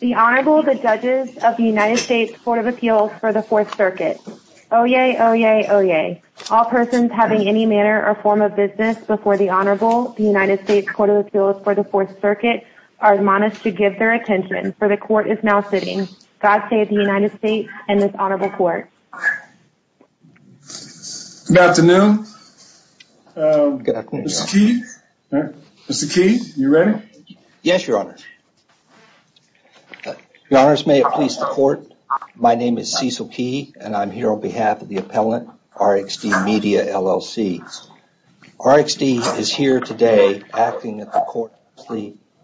The Honorable, the Judges of the United States Court of Appeals for the Fourth Circuit. Oyez, oyez, oyez. All persons having any manner or form of business before the Honorable, the United States Court of Appeals for the Fourth Circuit, are admonished to give their attention, for the Court is now sitting. God save the United States and this Honorable Court. Good afternoon. Mr. Key? Mr. Key, you ready? Yes, Your Honor. Your Honors, may it please the Court, my name is Cecil Key and I'm here on behalf of the appellant, RXD Media, LLC. RXD is here today asking that the Court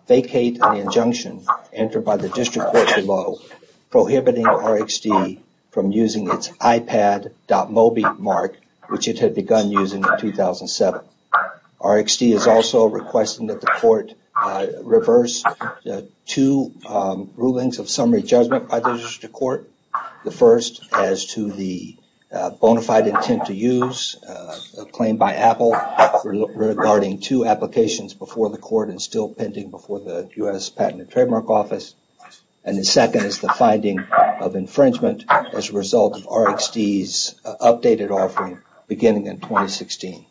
vacate an injunction entered by the District Court below prohibiting RXD from using its iPad.mobi mark, which it had begun using in 2007. RXD is also requesting that the Court reverse two rulings of summary judgment by the District Court. The first as to the bona fide intent to use a claim by Apple regarding two applications before the Court and still pending before the U.S. Patent and Trademark Office. And the second is the finding of infringement as a result of RXD's updated offering beginning in 2016.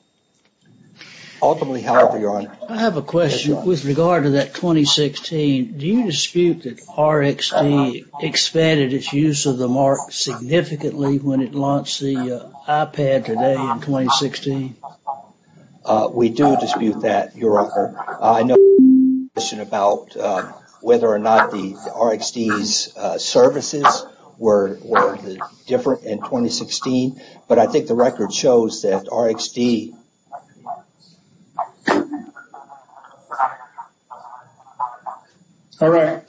Ultimately, however, Your Honor, I have a question. With regard to that 2016, do you dispute that RXD expanded its use of the mark significantly when it launched the iPad today in 2016? We do dispute that, Your Honor. I know you have a question about whether or not the RXD's services were different in 2016, but I think the record shows that RXD... All right.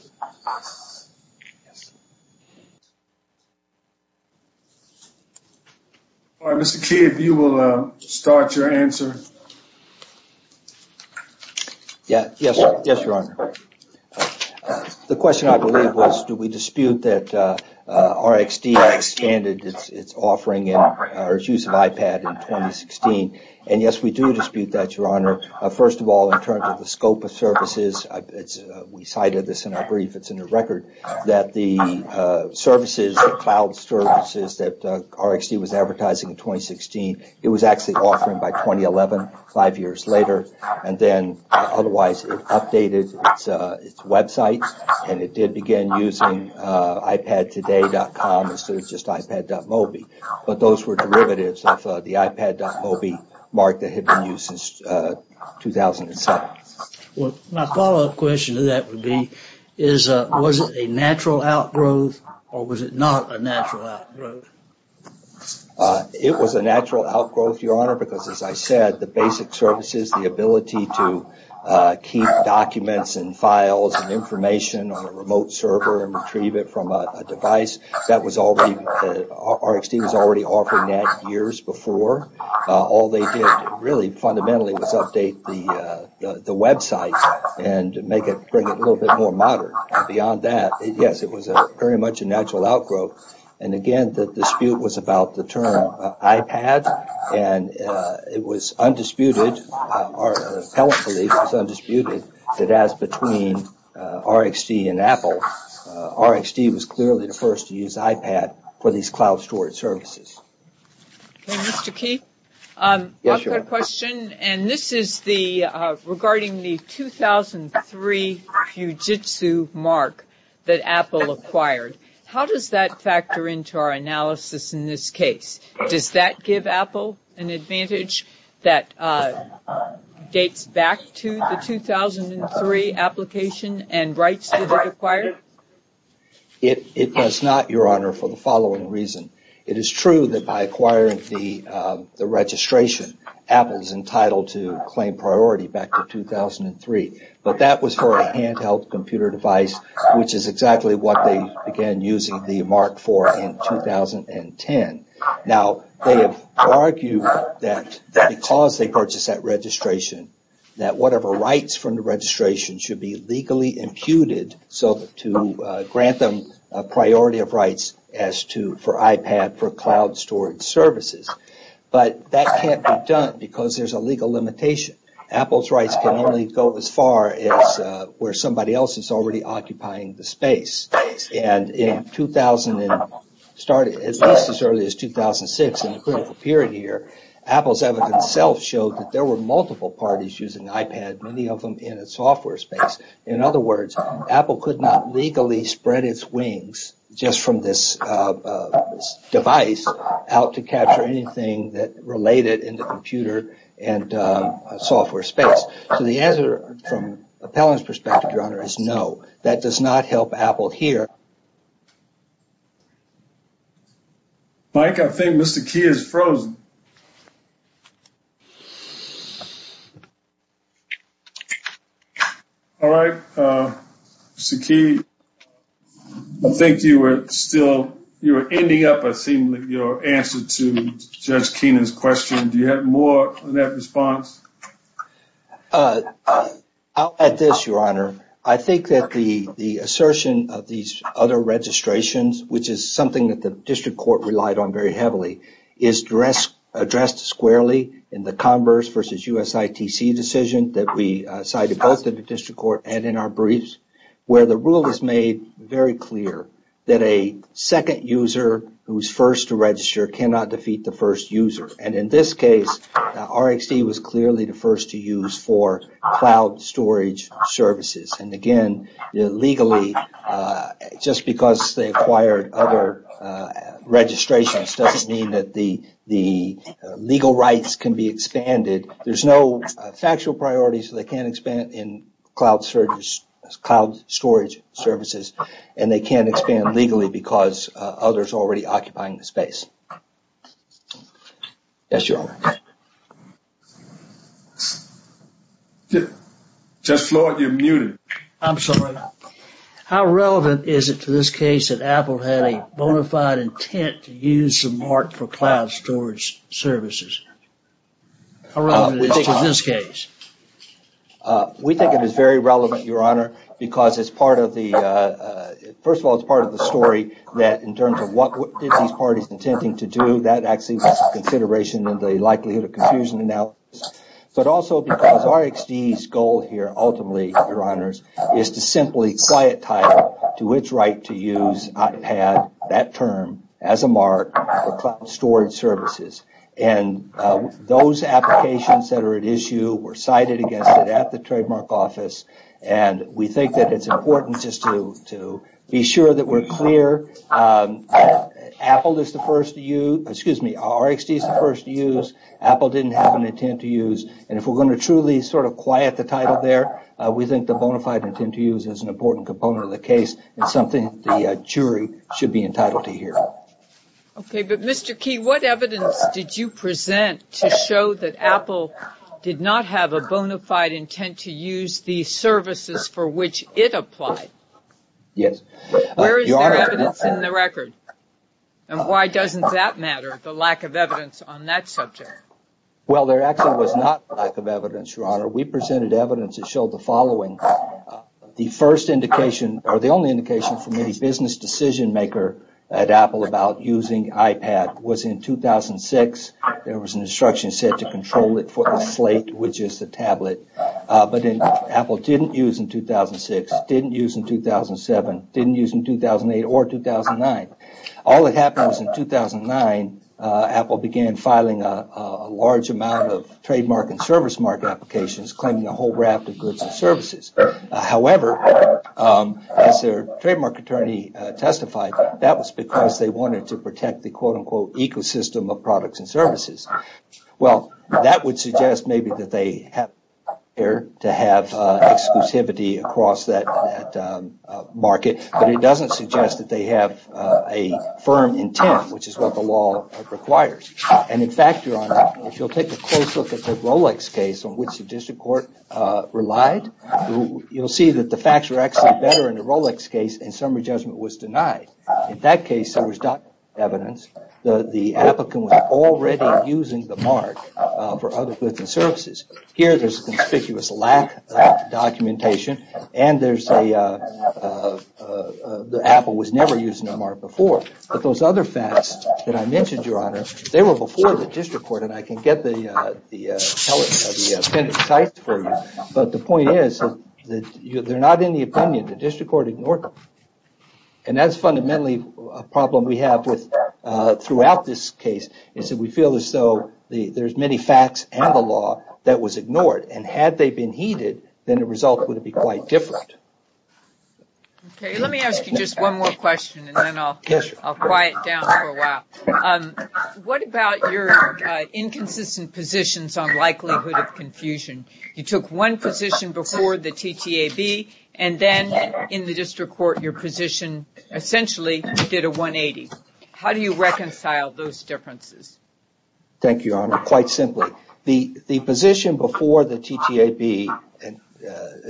All right, Mr. Key, if you will start your answer. Yes, Your Honor. The question, I believe, was do we dispute that RXD expanded its offering or its use of iPad in 2016? And yes, we do dispute that, Your Honor. First of all, in terms of the scope of services, we cited this in our brief. It's in the record that the services, the cloud services that RXD was advertising in 2016, it was actually offering by 2011, five years later. And then otherwise, it updated its website and it did begin using ipadtoday.com instead of just ipad.mobi. But those were derivatives of the ipad.mobi mark that had been used since 2007. My follow-up question to that would be, was it a natural outgrowth or was it not a natural outgrowth? It was a natural outgrowth, Your Honor, because as I said, the basic services, the ability to keep documents and files and information on a remote server and retrieve it from a device that was already... Beyond that, yes, it was very much a natural outgrowth. And again, the dispute was about the term iPad and it was undisputed, our appellate belief was undisputed, that as between RXD and Apple, RXD was clearly the first to use iPad for these cloud storage services. Mr. Keefe, I have a question and this is regarding the 2003 Fujitsu mark that Apple acquired. How does that factor into our analysis in this case? Does that give Apple an advantage that dates back to the 2003 application and rights that it acquired? It does not, Your Honor, for the following reason. It is true that by acquiring the registration, Apple is entitled to claim priority back to 2003. But that was for a handheld computer device, which is exactly what they began using the mark for in 2010. Now, they have argued that because they purchased that registration, that whatever rights from the registration should be legally imputed to grant them a priority of rights for iPad for cloud storage services. But that can't be done because there's a legal limitation. Apple's rights can only go as far as where somebody else is already occupying the space. And in 2000, at least as early as 2006 in the critical period here, Apple's evidence itself showed that there were multiple parties using iPad, many of them in a software space. In other words, Apple could not legally spread its wings just from this device out to capture anything that related in the computer and software space. So the answer from Appellant's perspective, Your Honor, is no, that does not help Apple here. Mike, I think Mr. Keefe is frozen. All right, Mr. Keefe, I think you were still, you were ending up, I think, with your answer to Judge Keenan's question. Do you have more on that response? I'll add this, Your Honor. I think that the assertion of these other registrations, which is something that the district court relied on very heavily, is addressed squarely in the Converse versus USITC decision that we cited both in the district court and in our briefs, where the rule is made very clear that a second user who's first to register cannot defeat the first user. And in this case, RxD was clearly the first to use for cloud storage services. And again, legally, just because they acquired other registrations doesn't mean that the legal rights can be expanded. There's no factual priorities that they can't expand in cloud storage services, and they can't expand legally because others are already occupying the space. Yes, Your Honor. Judge Floyd, you're muted. I'm sorry. How relevant is it to this case that Apple had a bona fide intent to use the mark for cloud storage services? How relevant is it to this case? We think it is very relevant, Your Honor, because first of all, it's part of the story that in terms of what these parties are intending to do, that actually was a consideration in the likelihood of confusion analysis. But also because RxD's goal here ultimately, Your Honors, is to simply quiet title to its right to use iPad, that term, as a mark for cloud storage services. And those applications that are at issue were cited against it at the trademark office. And we think that it's important just to be sure that we're clear. Apple is the first to use, excuse me, RxD is the first to use. Apple didn't have an intent to use. And if we're going to truly sort of quiet the title there, we think the bona fide intent to use is an important component of the case and something the jury should be entitled to hear. Okay, but Mr. Key, what evidence did you present to show that Apple did not have a bona fide intent to use the services for which it applied? Yes. Where is the evidence in the record? And why doesn't that matter, the lack of evidence on that subject? Well, there actually was not a lack of evidence, Your Honor. We presented evidence that showed the following. The first indication, or the only indication from any business decision maker at Apple about using iPad was in 2006, there was an instruction set to control it for the slate, which is the tablet. But Apple didn't use in 2006, didn't use in 2007, didn't use in 2008 or 2009. All that happened was in 2009, Apple began filing a large amount of trademark and service mark applications claiming a whole raft of goods and services. However, as their trademark attorney testified, that was because they wanted to protect the quote-unquote ecosystem of products and services. Well, that would suggest maybe that they have to have exclusivity across that market, but it doesn't suggest that they have a firm intent, which is what the law requires. And in fact, Your Honor, if you'll take a close look at the Rolex case on which the district court relied, you'll see that the facts are actually better in the Rolex case and summary judgment was denied. In that case, there was evidence that the applicant was already using the mark for other goods and services. Here, there's a conspicuous lack of documentation, and the Apple was never using the mark before. But those other facts that I mentioned, Your Honor, they were before the district court, and I can get the appendix for you, but the point is that they're not in the opinion. The district court ignored them, and that's fundamentally a problem we have throughout this case, is that we feel as though there's many facts and the law that was ignored, and had they been heeded, then the result would have been quite different. Okay, let me ask you just one more question, and then I'll quiet down for a while. What about your inconsistent positions on likelihood of confusion? You took one position before the TTAB, and then in the district court, your position essentially did a 180. How do you reconcile those differences? Thank you, Your Honor. Quite simply, the position before the TTAB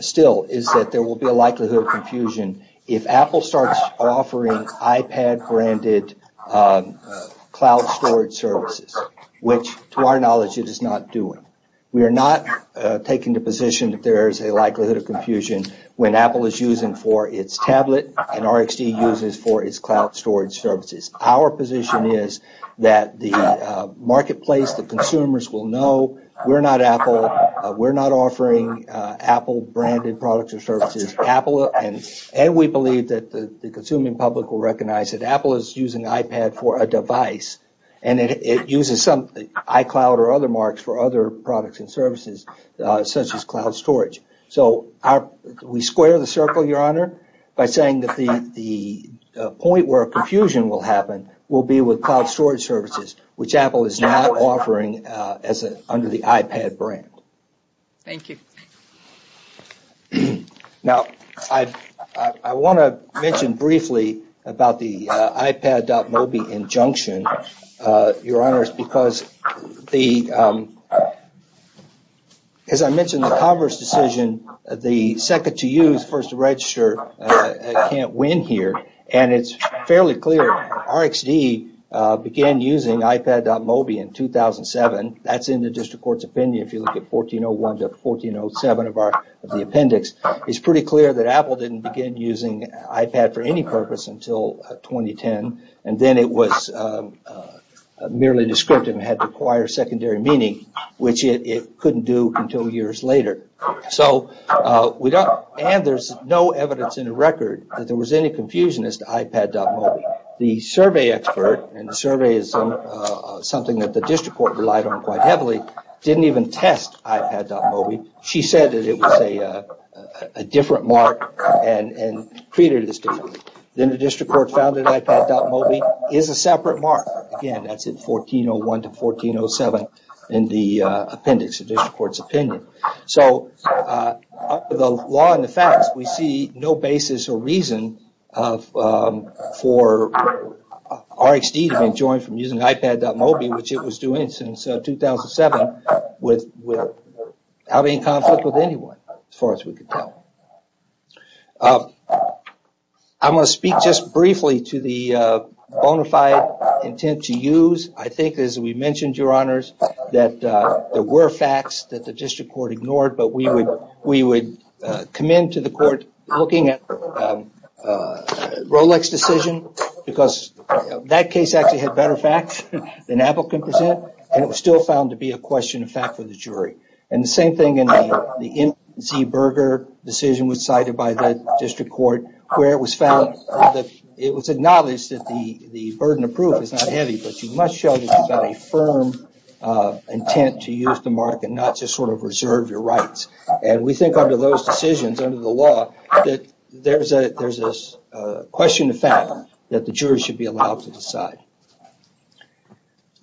still is that there will be a likelihood of confusion if Apple starts offering iPad-branded cloud storage services, which to our knowledge, it is not doing. We are not taking the position that there is a likelihood of confusion when Apple is using for its tablet, and RxD uses for its cloud storage services. Our position is that the marketplace, the consumers will know we're not Apple, we're not offering Apple-branded products or services, and we believe that the consuming public will recognize that Apple is using iPad for a device, and it uses iCloud or other marks for other products and services, such as cloud storage. So we square the circle, Your Honor, by saying that the point where confusion will happen will be with cloud storage services, which Apple is now offering under the iPad brand. Thank you. It's pretty clear that Apple didn't begin using iPad for any purpose until 2010, and then it was merely descriptive and had to acquire secondary meaning, which it couldn't do until years later. And there's no evidence in the record that there was any confusion as to iPad.mobi. The survey expert, and the survey is something that the district court relied on quite heavily, didn't even test iPad.mobi. She said that it was a different mark and treated it differently. Then the district court found that iPad.mobi is a separate mark. Again, that's in 1401 to 1407 in the appendix of the district court's opinion. So the law and the facts, we see no basis or reason for RxD to be enjoined from using iPad.mobi, which it was doing since 2007, with having conflict with anyone, as far as we can tell. I want to speak just briefly to the bona fide intent to use. I think, as we mentioned, your honors, that there were facts that the district court ignored, but we would commend to the court looking at Rolex's decision, because that case actually had better facts than Apple can present, and it was still found to be a question of fact for the jury. The same thing in the N. Z. Berger decision was cited by the district court, where it was acknowledged that the burden of proof is not heavy, but you must show that you've got a firm intent to use the mark and not just reserve your rights. We think under those decisions, under the law, that there's a question of fact that the jury should be allowed to decide.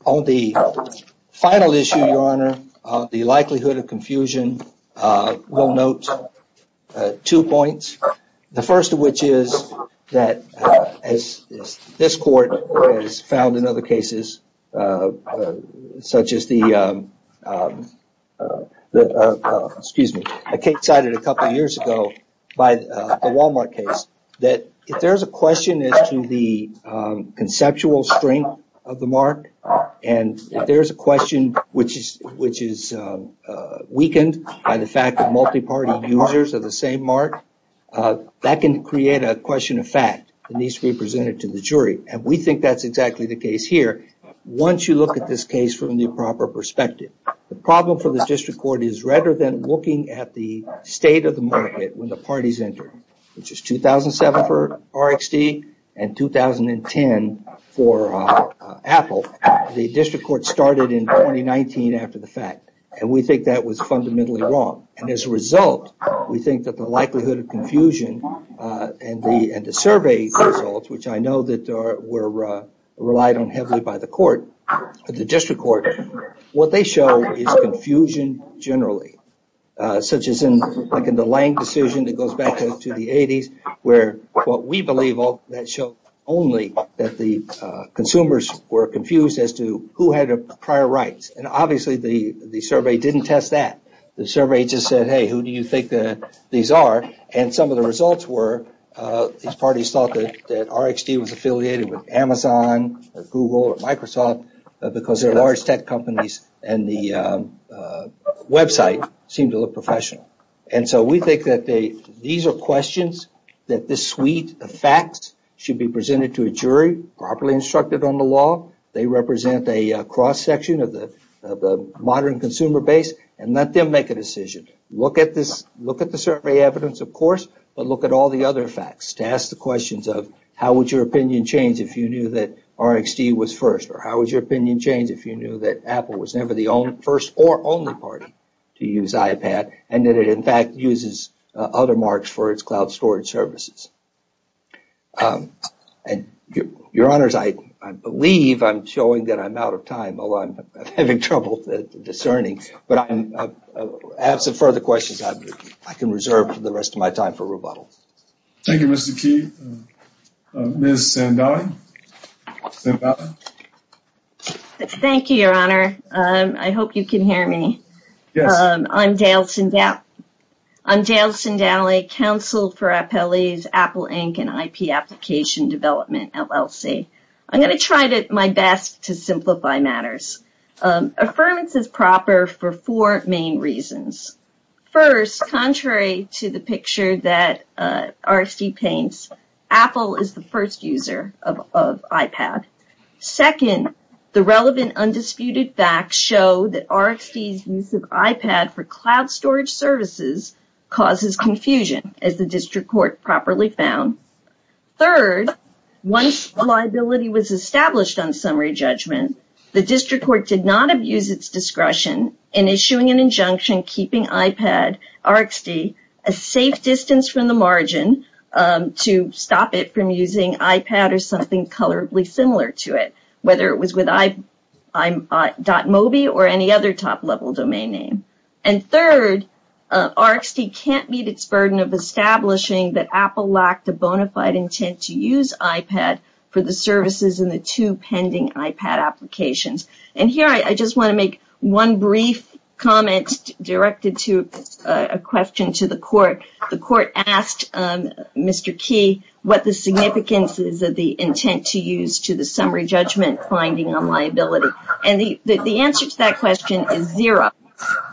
On the final issue, your honor, the likelihood of confusion, we'll note two points. The first of which is that, as this court has found in other cases, such as the, excuse me, a case cited a couple of years ago by the Walmart case, that if there's a question as to the conceptual structure of the case, it's not a question of fact. It's a question of strength of the mark, and if there's a question which is weakened by the fact that multi-party users are the same mark, that can create a question of fact that needs to be presented to the jury, and we think that's exactly the case here. Once you look at this case from the proper perspective, the problem for the district court is rather than looking at the state of the market when the parties enter, which is 2007 for RXD and 2010 for Apple, the district court started in 2019 after the fact, and we think that was fundamentally wrong. As a result, we think that the likelihood of confusion and the survey results, which I know that were relied on heavily by the court, the district court, what they show is confusion generally, such as in the Lange decision that goes back to the 80s, where what we believe, that showed only that the consumers were confused as to who had prior rights, and obviously the survey didn't test that. The survey just said, hey, who do you think these are, and some of the results were these parties thought that RXD was affiliated with Amazon or Google or Microsoft because they're large tech companies and the website seemed to look professional. We think that these are questions that this suite of facts should be presented to a jury, properly instructed on the law, they represent a cross-section of the modern consumer base, and let them make a decision. Look at the survey evidence, of course, but look at all the other facts to ask the questions of how would your opinion change if you knew that RXD was first, or how would your opinion change if you knew that Apple was never the first or only party to use iPad, and that it in fact uses other marks for its cloud storage services. Your honors, I believe I'm showing that I'm out of time, although I'm having trouble discerning, but I have some further questions I can reserve for the rest of my time for rebuttal. Thank you, Mr. Key. Ms. Sandali. Thank you, your honor. I hope you can hear me. I'm Dale Sandali, counsel for Apple Inc. and IP Application Development, LLC. I'm going to try my best to simplify matters. Affirmance is proper for four main reasons. First, contrary to the picture that RXD paints, Apple is the first user of iPad. Second, the relevant undisputed facts show that RXD's use of iPad for cloud storage services causes confusion, as the district court properly found. Third, once liability was established on summary judgment, the district court did not abuse its discretion in issuing an injunction keeping iPad, RXD, a safe distance from the margin to stop it from using iPad or something colorably similar to it, whether it was with i.mobi or any other top-level domain name. And third, RXD can't meet its burden of establishing that Apple lacked a bona fide intent to use iPad for the services in the two pending iPad applications. And here I just want to make one brief comment directed to a question to the court. The court asked Mr. Key what the significance is of the intent to use to the summary judgment finding on liability. And the answer to that question is zero,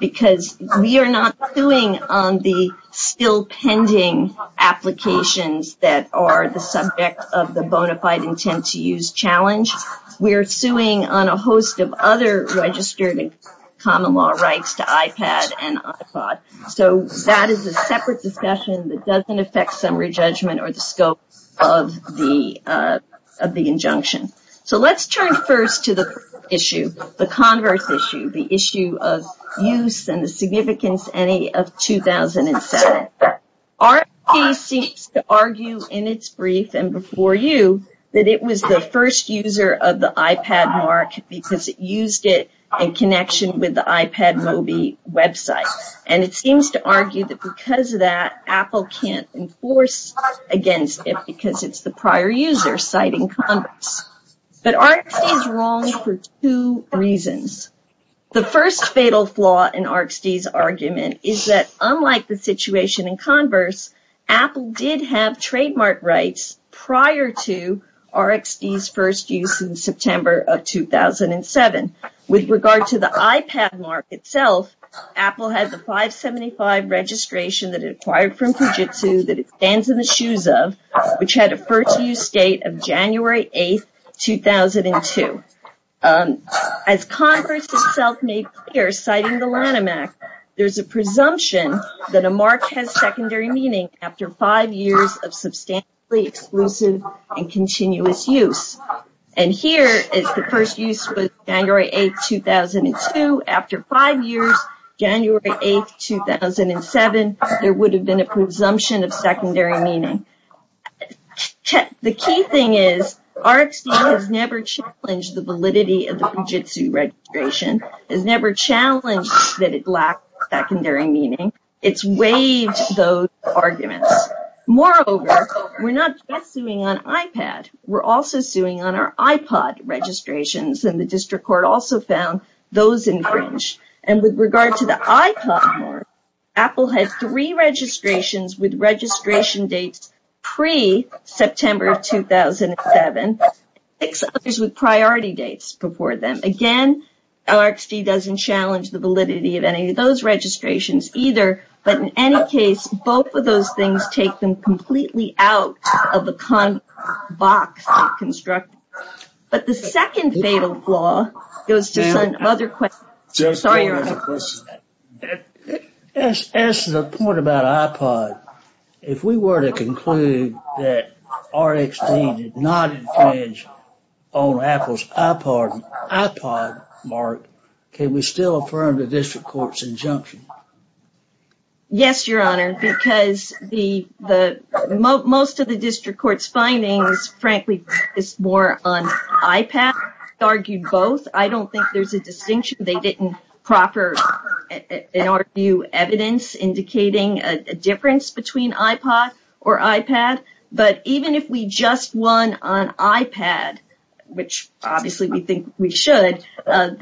because we are not suing on the still pending applications that are the subject of the bona fide intent to use challenge. We are suing on a host of other registered common law rights to iPad and iPod. So that is a separate discussion that doesn't affect summary judgment or the scope of the injunction. So let's turn first to the issue, the converse issue, the issue of use and the significance any of 2007. RXD seems to argue in its brief and before you that it was the first user of the iPad mark because it used it in connection with the iPad mobi website. And it seems to argue that because of that Apple can't enforce against it because it's the prior user citing converse. But RXD is wrong for two reasons. The first fatal flaw in RXD's argument is that unlike the situation in converse, Apple did have trademark rights prior to RXD's first use in September of 2007. With regard to the iPad mark itself, Apple had the 575 registration that it acquired from Fujitsu that it stands in the shoes of, which had a first use date of January 8, 2002. As converse itself made clear, citing the Lanham Act, there's a presumption that a mark has secondary meaning after five years of substantially exclusive and continuous use. And here is the first use was January 8, 2002. After five years, January 8, 2007, there would have been a presumption of secondary meaning. The key thing is RXD has never challenged the validity of the Fujitsu registration, has never challenged that it lacked secondary meaning. It's waived those arguments. Moreover, we're not just suing on iPad, we're also suing on our iPod registrations. And the district court also found those infringed. And with regard to the iPod mark, Apple had three registrations with registration dates pre-September 2007, six others with priority dates before them. Again, RXD doesn't challenge the validity of any of those registrations either. But in any case, both of those things take them completely out of the box of construction. But the second fatal flaw goes to some other questions. Sorry, Your Honor. As to the point about iPod, if we were to conclude that RXD did not infringe on Apple's iPod mark, can we still affirm the district court's injunction? Yes, Your Honor, because most of the district court's findings, frankly, focus more on iPad. They argued both. I don't think there's a distinction. They didn't proper, in our view, evidence indicating a difference between iPod or iPad. But even if we just won on iPad, which obviously we think we should, under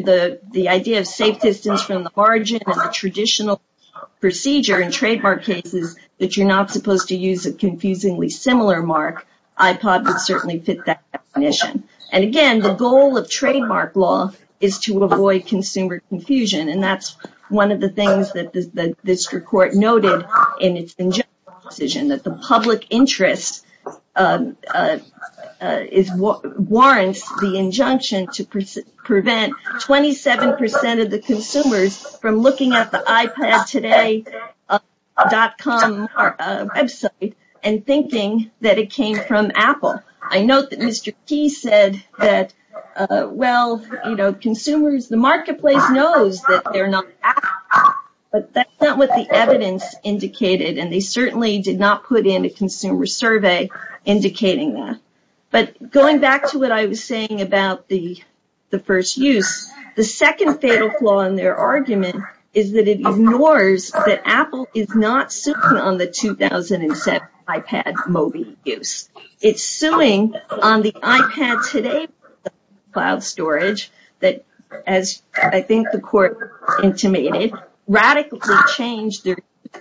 the idea of safe distance from the margin and the traditional procedure in trademark cases, that you're not supposed to use a confusingly similar mark, iPod would certainly fit that definition. And again, the goal of trademark law is to avoid consumer confusion. And that's one of the things that the district court noted in its injunction decision, that the public interest warrants the injunction to prevent 27% of the consumers from looking at the iPadtoday.com website and thinking that it came from Apple. I note that Mr. Key said that, well, you know, consumers, the marketplace knows that they're not Apple, but that's not what the evidence indicated. And they certainly did not put in a consumer survey indicating that. But going back to what I was saying about the first use, the second fatal flaw in their argument is that it ignores that Apple is not simply on the 2007 iPad Mobi use. It's suing on the iPad today for cloud storage that, as I think the court intimated, radically changed the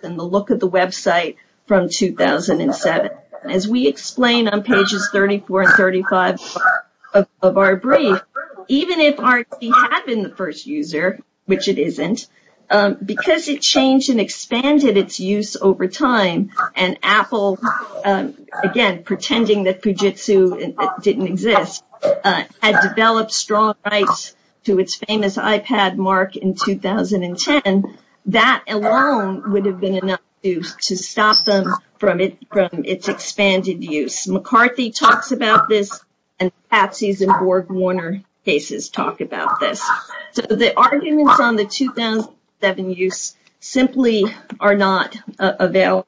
look of the website from 2007. As we explain on pages 34 and 35 of our brief, even if RxD had been the first user, which it isn't, because it changed and expanded its use over time, and Apple, again, pretending that Fujitsu didn't exist, had developed strong rights to its famous iPad mark in 2010, that alone would have been enough to stop them from its expanded use. McCarthy talks about this, and Patsy's and BorgWarner cases talk about this. So the arguments on the 2007 use simply are not available.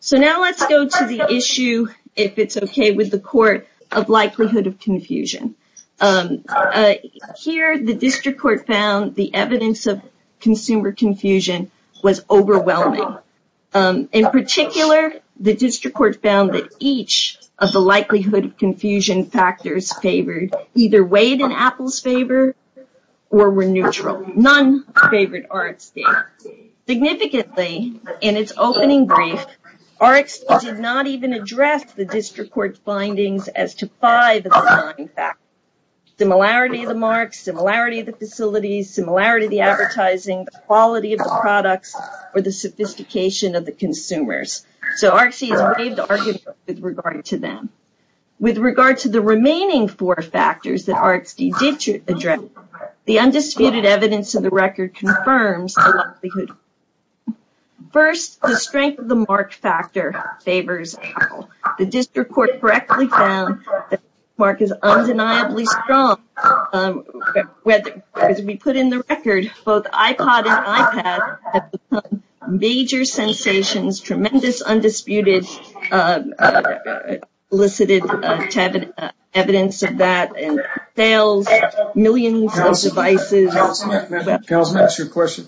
So now let's go to the issue, if it's okay with the court, of likelihood of confusion. Here, the district court found the evidence of consumer confusion was overwhelming. In particular, the district court found that each of the likelihood of confusion factors favored either weighed in Apple's favor or were neutral. None favored RxD. Significantly, in its opening brief, RxD did not even address the district court's findings as to five of the nine factors. Similarity of the mark, similarity of the facilities, similarity of the advertising, quality of the products, or the sophistication of the consumers. So RxD has waived argument with regard to them. With regard to the remaining four factors that RxD did address, the undisputed evidence of the record confirms the likelihood. First, the strength of the mark factor favors Apple. The district court correctly found that the mark is undeniably strong. As we put in the record, both iPod and iPad have become major sensations. Tremendous undisputed elicited evidence of that in sales, millions of devices. Councilman, that's your question.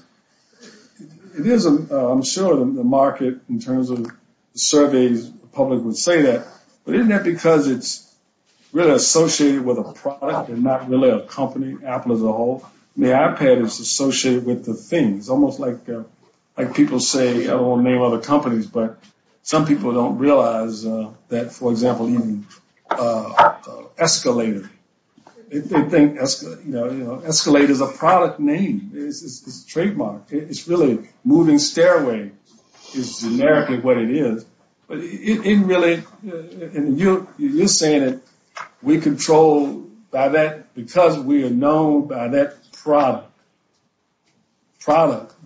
I'm sure the market in terms of surveys, the public would say that. But isn't that because it's really associated with a product and not really a company, Apple as a whole? The iPad is associated with the things. Almost like people say, I don't want to name other companies, but some people don't realize that, for example, even Escalator. They think Escalator is a product name. It's trademarked. It's really moving stairway is generically what it is. But it really, and you're saying that we control by that because we are known by that product.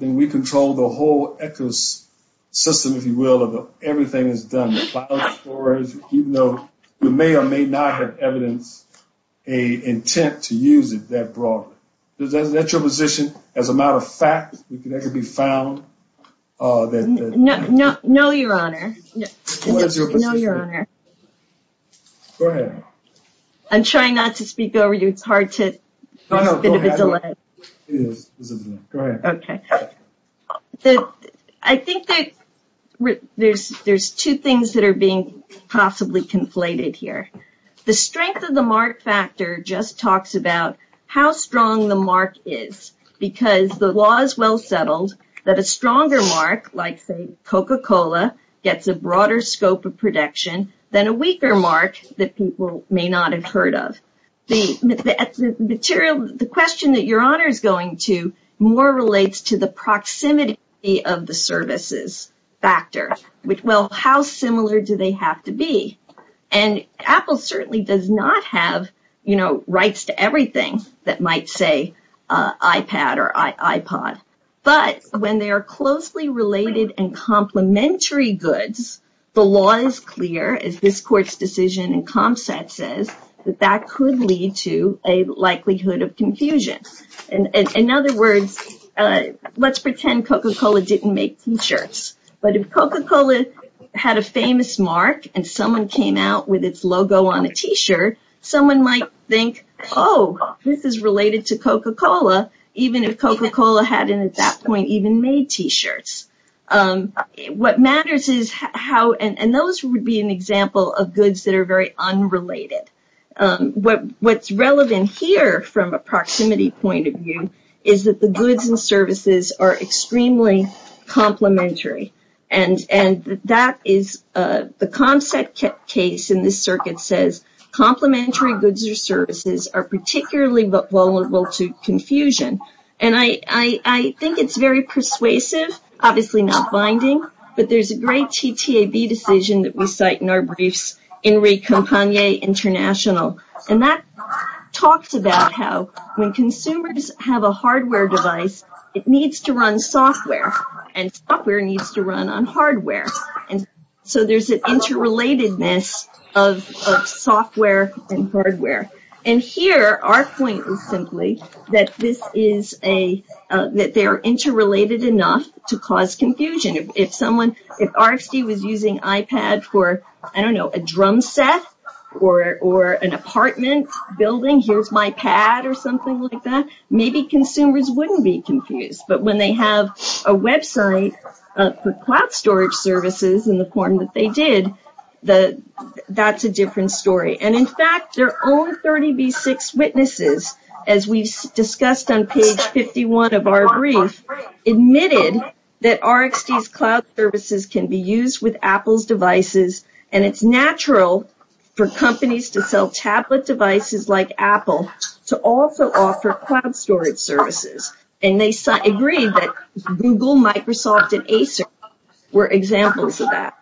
Then we control the whole ecosystem, if you will, of everything that's done. Even though we may or may not have evidence, a intent to use it that broad. Is that your position? As a matter of fact, that could be found? No, your honor. No, your honor. Go ahead. I'm trying not to speak over you. It's hard to. Go ahead. Okay. I think that there's two things that are being possibly conflated here. The strength of the mark factor just talks about how strong the mark is. Because the law is well settled that a stronger mark, like Coca-Cola, gets a broader scope of production than a weaker mark that people may not have heard of. The question that your honor is going to more relates to the proximity of the services factor. Well, how similar do they have to be? And Apple certainly does not have rights to everything that might say iPad or iPod. But when they are closely related and complementary goods, the law is clear, as this court's decision and concept says, that that could lead to a likelihood of confusion. In other words, let's pretend Coca-Cola didn't make T-shirts. But if Coca-Cola had a famous mark and someone came out with its logo on a T-shirt, someone might think, oh, this is related to Coca-Cola, even if Coca-Cola hadn't at that point even made T-shirts. What matters is how, and those would be an example of goods that are very unrelated. What's relevant here from a proximity point of view is that the goods and services are extremely complementary. And that is the concept case in this circuit says complementary goods or services are particularly vulnerable to confusion. And I think it's very persuasive, obviously not binding, but there's a great TTAB decision that we cite in our briefs, Enrique Campagne International. And that talks about how when consumers have a hardware device, it needs to run software and software needs to run on hardware. And so there's an interrelatedness of software and hardware. And here, our point is simply that this is a, that they're interrelated enough to cause confusion. If someone, if RSD was using iPad for, I don't know, a drum set or an apartment building, here's my pad or something like that, maybe consumers wouldn't be confused. But when they have a website for cloud storage services in the form that they did, that's a different story. And in fact, their own 30B6 witnesses, as we discussed on page 51 of our brief, admitted that RSD's cloud services can be used with Apple's devices. And it's natural for companies to sell tablet devices like Apple to also offer cloud storage services. And they agreed that Google, Microsoft, and Acer were examples of that.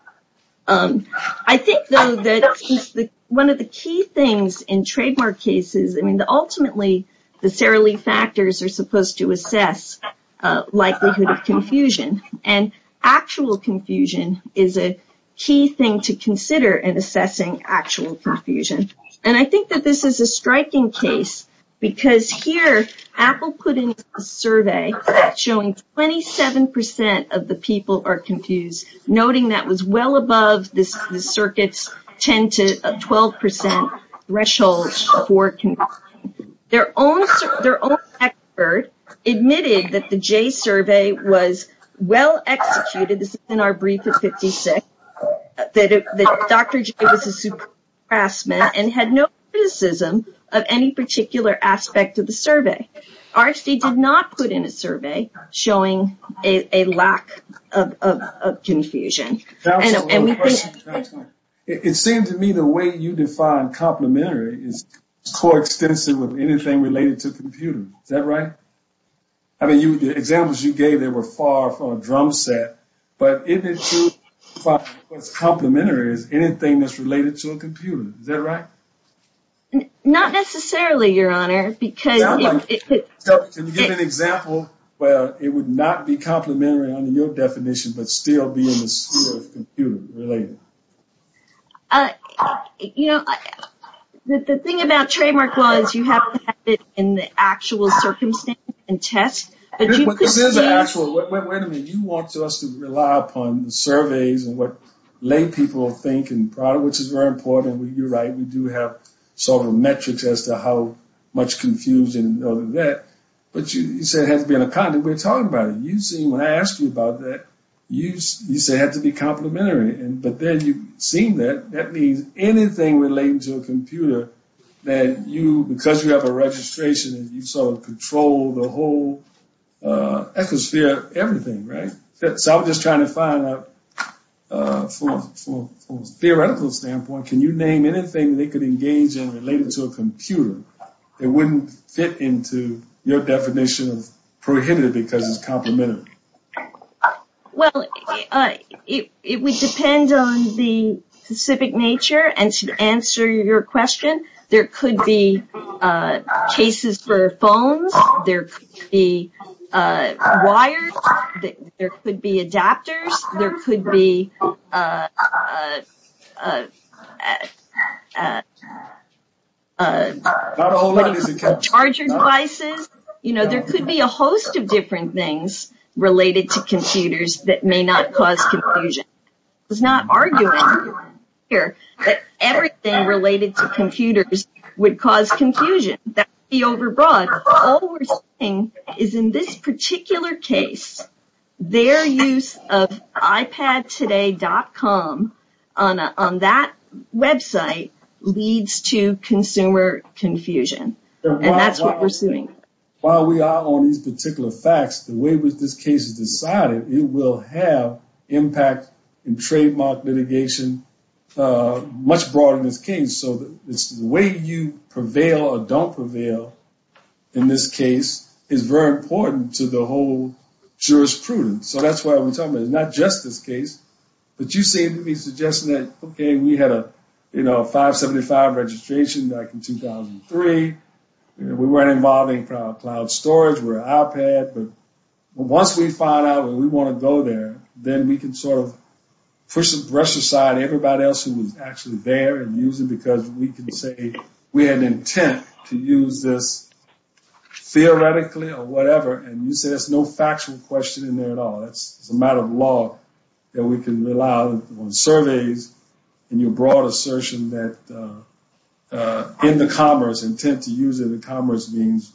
I think, though, that one of the key things in trademark cases, I mean, ultimately, the Sara Lee factors are supposed to assess likelihood of confusion. And actual confusion is a key thing to consider in assessing actual confusion. And I think that this is a striking case, because here, Apple put in a survey showing 27% of the people are confused, noting that was well above the circuit's 10 to 12% threshold for confusion. Their own expert admitted that the Jay survey was well executed, this is in our brief at 56, that Dr. Jay was a super harassment and had no criticism of any particular aspect of the survey. RSD did not put in a survey showing a lack of confusion. It seemed to me the way you define complimentary is co-extensive with anything related to computers. Is that right? I mean, the examples you gave, they were far from a drum set, but it was complimentary as anything that's related to a computer. Is that right? Not necessarily, Your Honor. Can you give an example where it would not be complimentary under your definition, but still be in the sphere of computer related? You know, the thing about trademark laws, you have to have it in the actual circumstance and test. Wait a minute, you want us to rely upon the surveys and what lay people think, which is very important. You're right, we do have sort of metrics as to how much confusion, but you said it has to be in a condom. We're talking about it. When I asked you about that, you said it had to be complimentary. But then you seem that that means anything related to a computer that you, because you have a registration and you sort of control the whole ecosphere, everything, right? So I'm just trying to find out from a theoretical standpoint, can you name anything they could engage in related to a computer that wouldn't fit into your definition of prohibited because it's complimentary? Well, it would depend on the specific nature. And to answer your question, there could be cases for phones, there could be wires, there could be adapters, there could be charger devices. You know, there could be a host of different things related to computers that may not cause confusion. I'm not arguing here that everything related to computers would cause confusion. That would be overbroad. All we're saying is in this particular case, their use of iPadtoday.com on that website leads to consumer confusion. And that's what we're seeing. While we are on these particular facts, the way this case is decided, it will have impact in trademark litigation much broader than this case. So the way you prevail or don't prevail in this case is very important to the whole jurisprudence. So that's what I'm talking about. It's not just this case. But you seem to be suggesting that, okay, we had a 575 registration back in 2003. We weren't involving cloud storage. We're an iPad. But once we find out and we want to go there, then we can sort of brush aside everybody else who was actually there and use it because we can say we had an intent to use this theoretically or whatever. And you say there's no factual question in there at all. It's a matter of law that we can rely on surveys and your broad assertion that in the commerce, intent to use it in commerce means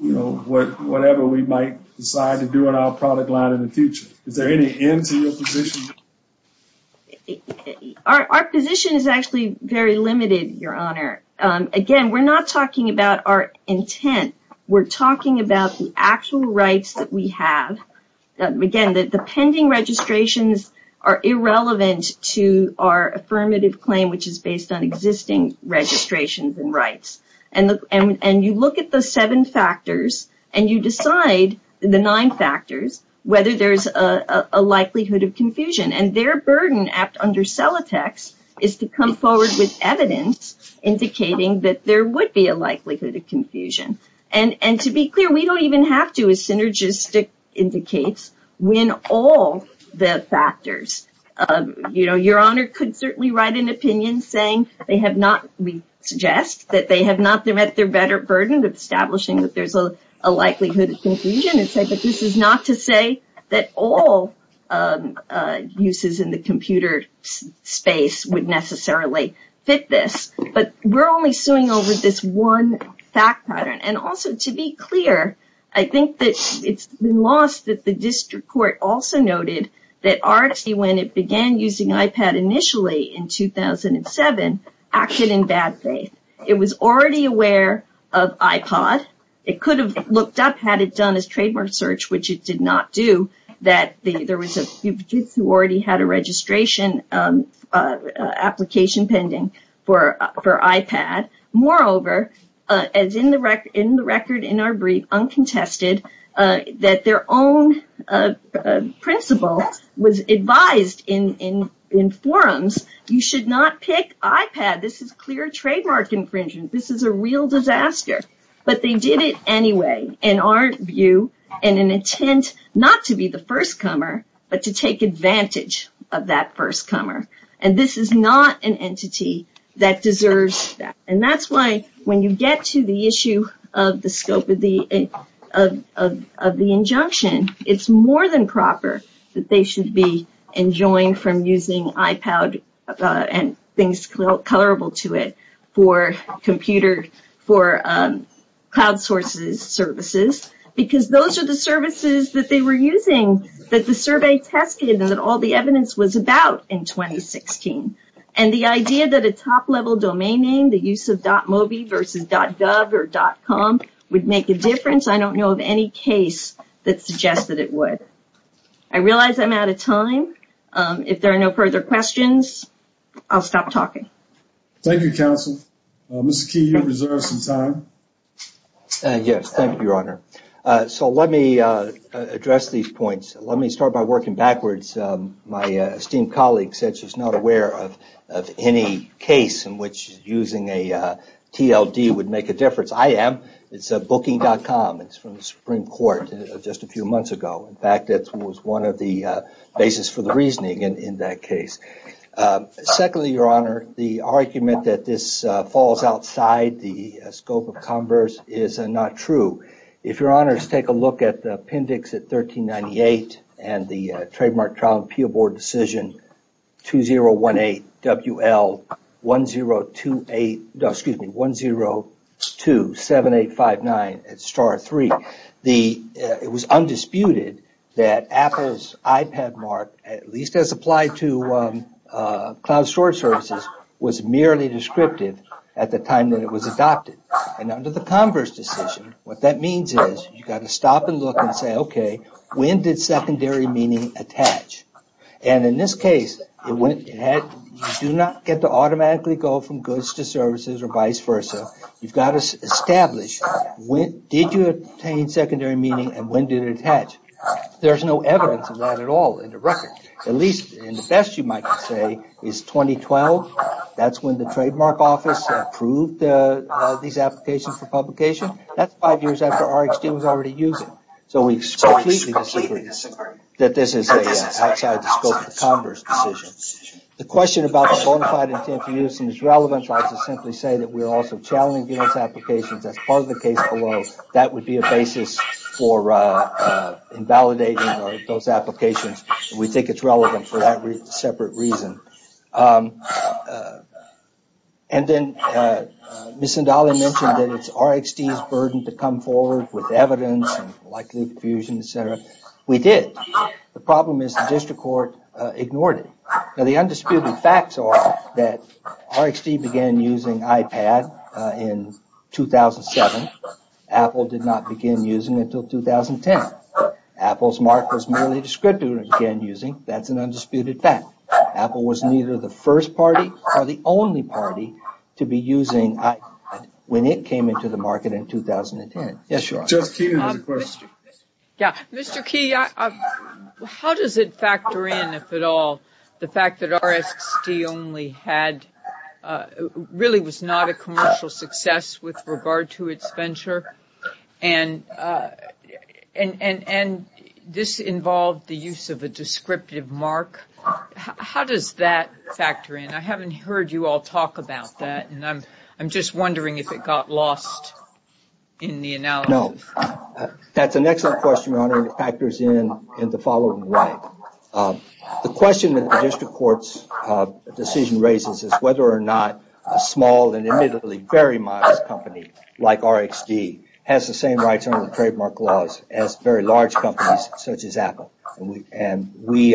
whatever we might decide to do in our product line in the future. Is there any end to your position? Our position is actually very limited, Your Honor. Again, we're not talking about our intent. We're talking about the actual rights that we have. Again, the pending registrations are irrelevant to our affirmative claim, which is based on existing registrations and rights. And you look at the seven factors and you decide, the nine factors, whether there's a likelihood of confusion. And their burden under Celotex is to come forward with evidence indicating that there would be a likelihood of confusion. And to be clear, we don't even have to, as Synergistic indicates, win all the factors. Your Honor could certainly write an opinion saying they have not, we suggest, that they have not met their better burden of establishing that there's a likelihood of confusion and say, but this is not to say that all uses in the computer space would necessarily fit this. But we're only suing over this one fact pattern. And also, to be clear, I think that it's been lost that the district court also noted that RFC, when it began using iPad initially in 2007, acted in bad faith. It was already aware of iPod. It could have looked up, had it done its trademark search, which it did not do, that there was a few kids who already had a registration application pending for iPad. Moreover, as in the record in our brief, uncontested, that their own principle was advised in forums, you should not pick iPad. This is clear trademark infringement. This is a real disaster. But they did it anyway, in our view, in an intent not to be the first comer, but to take advantage of that first comer. And this is not an entity that deserves that. I don't know of any case that suggests that it would. I realize I'm out of time. If there are no further questions, I'll stop talking. Thank you, counsel. Mr. Key, you have some time. Yes, thank you, Your Honor. So let me address these points. Let me start by working backwards. My esteemed colleague said she's not aware of any case in which using a TLD would make a difference. I am. It's Booking.com. It's from the Supreme Court just a few months ago. In fact, that was one of the basis for the reasoning in that case. Secondly, Your Honor, the argument that this falls outside the scope of converse is not true. If Your Honors take a look at the appendix at 1398 and the Trademark Trial and Appeal Board decision 2018WL1027859. It was undisputed that Apple's iPad mark, at least as applied to cloud storage services, was merely descriptive at the time that it was adopted. And under the converse decision, what that means is you've got to stop and look and say, okay, when did secondary meaning attach? And in this case, you do not get to automatically go from goods to services or vice versa. You've got to establish, did you obtain secondary meaning and when did it attach? There's no evidence of that at all in the record, at least in the best you might say is 2012. That's when the Trademark Office approved these applications for publication. That's five years after RxD was already using them. So we completely disagree that this is outside the scope of the converse decision. The question about the bona fide intent for use seems relevant. I'll just simply say that we're also challenging those applications as part of the case below. That would be a basis for invalidating those applications. We think it's relevant for that separate reason. And then Ms. Sindali mentioned that it's RxD's burden to come forward with evidence and likely confusion, etc. We did. The problem is the district court ignored it. Now the undisputed facts are that RxD began using iPad in 2007. Apple did not begin using until 2010. Apple's market was merely descriptive of again using. That's an undisputed fact. Apple was neither the first party or the only party to be using iPad when it came into the market in 2010. Mr. Key, how does it factor in, if at all, the fact that RxD really was not a commercial success with regard to its venture and this involved the use of a descriptive mark? How does that factor in? I haven't heard you all talk about that. I'm just wondering if it got lost in the analysis. No. That's an excellent question, Your Honor. It factors in the following way. The question that the district court's decision raises is whether or not a small and admittedly very modest company like RxD has the same rights under the trademark laws as very large companies such as Apple. We believe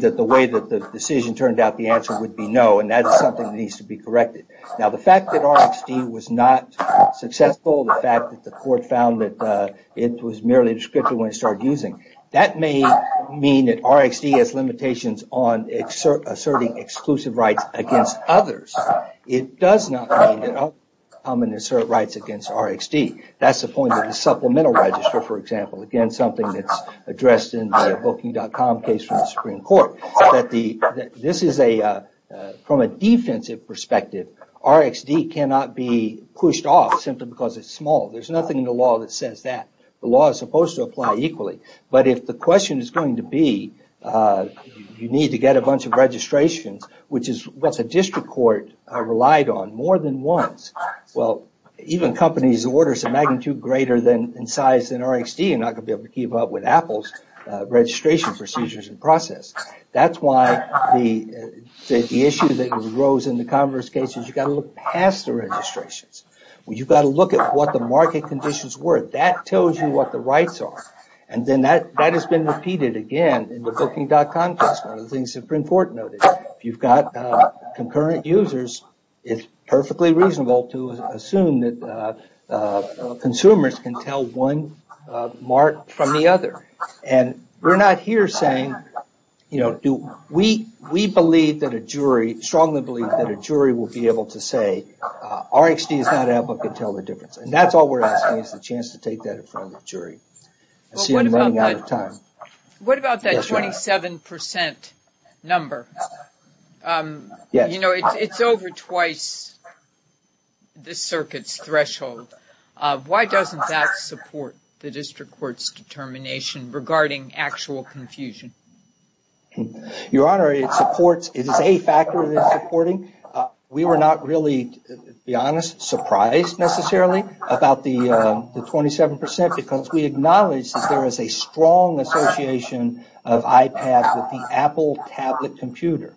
that the way that the decision turned out, the answer would be no, and that is something that needs to be corrected. Now the fact that RxD was not successful, the fact that the court found that it was merely descriptive when it started using, that may mean that RxD has limitations on asserting exclusive rights against others. It does not mean that other companies assert rights against RxD. That's the point of the supplemental register, for example. Again, something that's addressed in the Booking.com case from the Supreme Court. From a defensive perspective, RxD cannot be pushed off simply because it's small. There's nothing in the law that says that. The law is supposed to apply equally, but if the question is going to be you need to get a bunch of registrations, which is what the district court relied on more than once, even companies' orders of magnitude greater in size than RxD are not going to be able to keep up with Apple's registration procedures and process. That's why the issue that arose in the Congress case is you've got to look past the registrations. You've got to look at what the market conditions were. That tells you what the rights are. That has been repeated again in the Booking.com case, one of the things the Supreme Court noted. If you've got concurrent users, it's perfectly reasonable to assume that consumers can tell one mark from the other. We're not here saying, we strongly believe that a jury will be able to say RxD is not out, but can tell the difference. That's all we're asking is the chance to take that in front of the jury. What about that 27% number? It's over twice the circuit's threshold. Why doesn't that support the district court's determination regarding actual confusion? Your Honor, it is a factor that it's supporting. We were not really, to be honest, surprised necessarily about the 27% because we acknowledge that there is a strong association of iPad with the Apple tablet computer.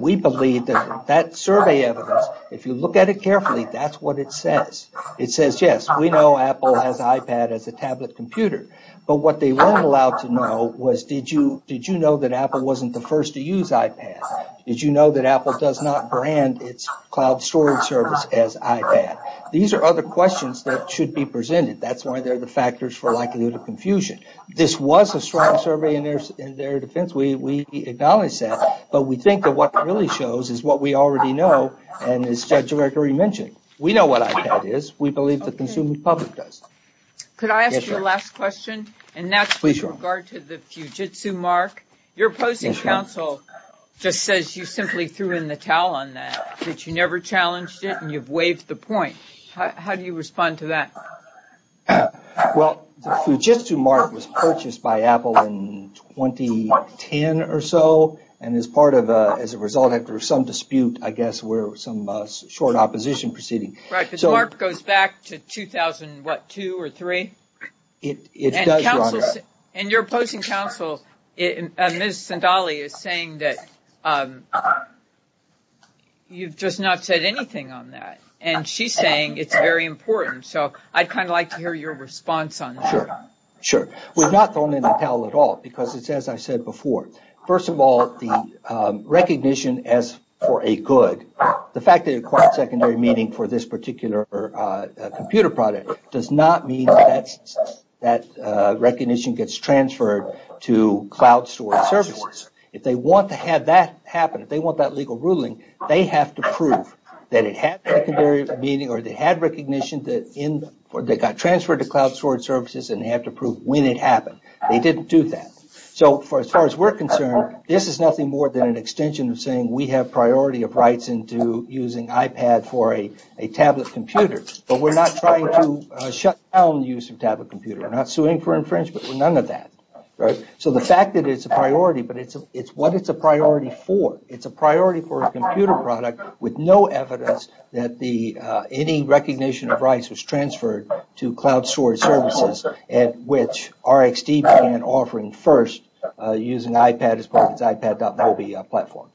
We believe that that survey evidence, if you look at it carefully, that's what it says. It says, yes, we know Apple has iPad as a tablet computer, but what they weren't allowed to know was, did you know that Apple wasn't the first to use iPad? Did you know that Apple does not brand its cloud storage service as iPad? These are other questions that should be presented. That's why they're the factors for likelihood of confusion. This was a strong survey in their defense. We acknowledge that, but we think that what it really shows is what we already know, and as Judge Gregory mentioned, we know what iPad is. We believe the consumer public does. Could I ask your last question? And that's with regard to the Fujitsu mark. Your opposing counsel just says you simply threw in the towel on that, that you never challenged it and you've waived the point. How do you respond to that? Well, the Fujitsu mark was purchased by Apple in 2010 or so, and as a result, after some dispute, I guess, some short opposition proceeding. Right, because the mark goes back to 2000, what, 2002 or 2003? And your opposing counsel, Ms. Sandali, is saying that you've just not said anything on that, and she's saying it's very important, so I'd kind of like to hear your response on that. Sure. We've not thrown in the towel at all, because it's as I said before. First of all, the recognition as for a good, the fact that it acquired secondary meaning for this particular computer product does not mean that that recognition gets transferred to cloud storage services. If they want to have that happen, if they want that legal ruling, they have to prove that it had secondary meaning or they had recognition that got transferred to cloud storage services and they have to prove when it happened. They didn't do that. So, as far as we're concerned, this is nothing more than an extension of saying we have priority of rights into using iPad for a tablet computer, but we're not trying to shut down the use of tablet computers. We're not suing for infringement, none of that. So the fact that it's a priority, but it's what it's a priority for. It's a priority for a computer product with no evidence that any recognition of rights was transferred to cloud storage services at which RxD began offering first using iPad as part of its iPad.mobi platform.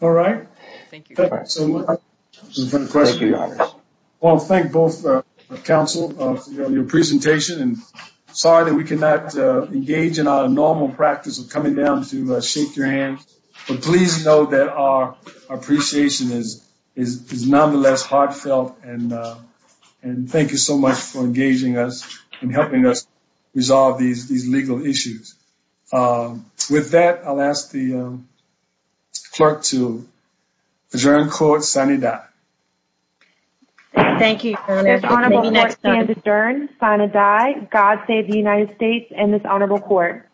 All right. Thank you. Well, thank both counsel of your presentation and sorry that we cannot engage in our normal practice of coming down to shake your hand. But please know that our appreciation is nonetheless heartfelt and thank you so much for engaging us and helping us resolve these legal issues. With that, I'll ask the clerk to adjourn court, sign a die. Thank you. Sign a die. God save the United States and this honorable court.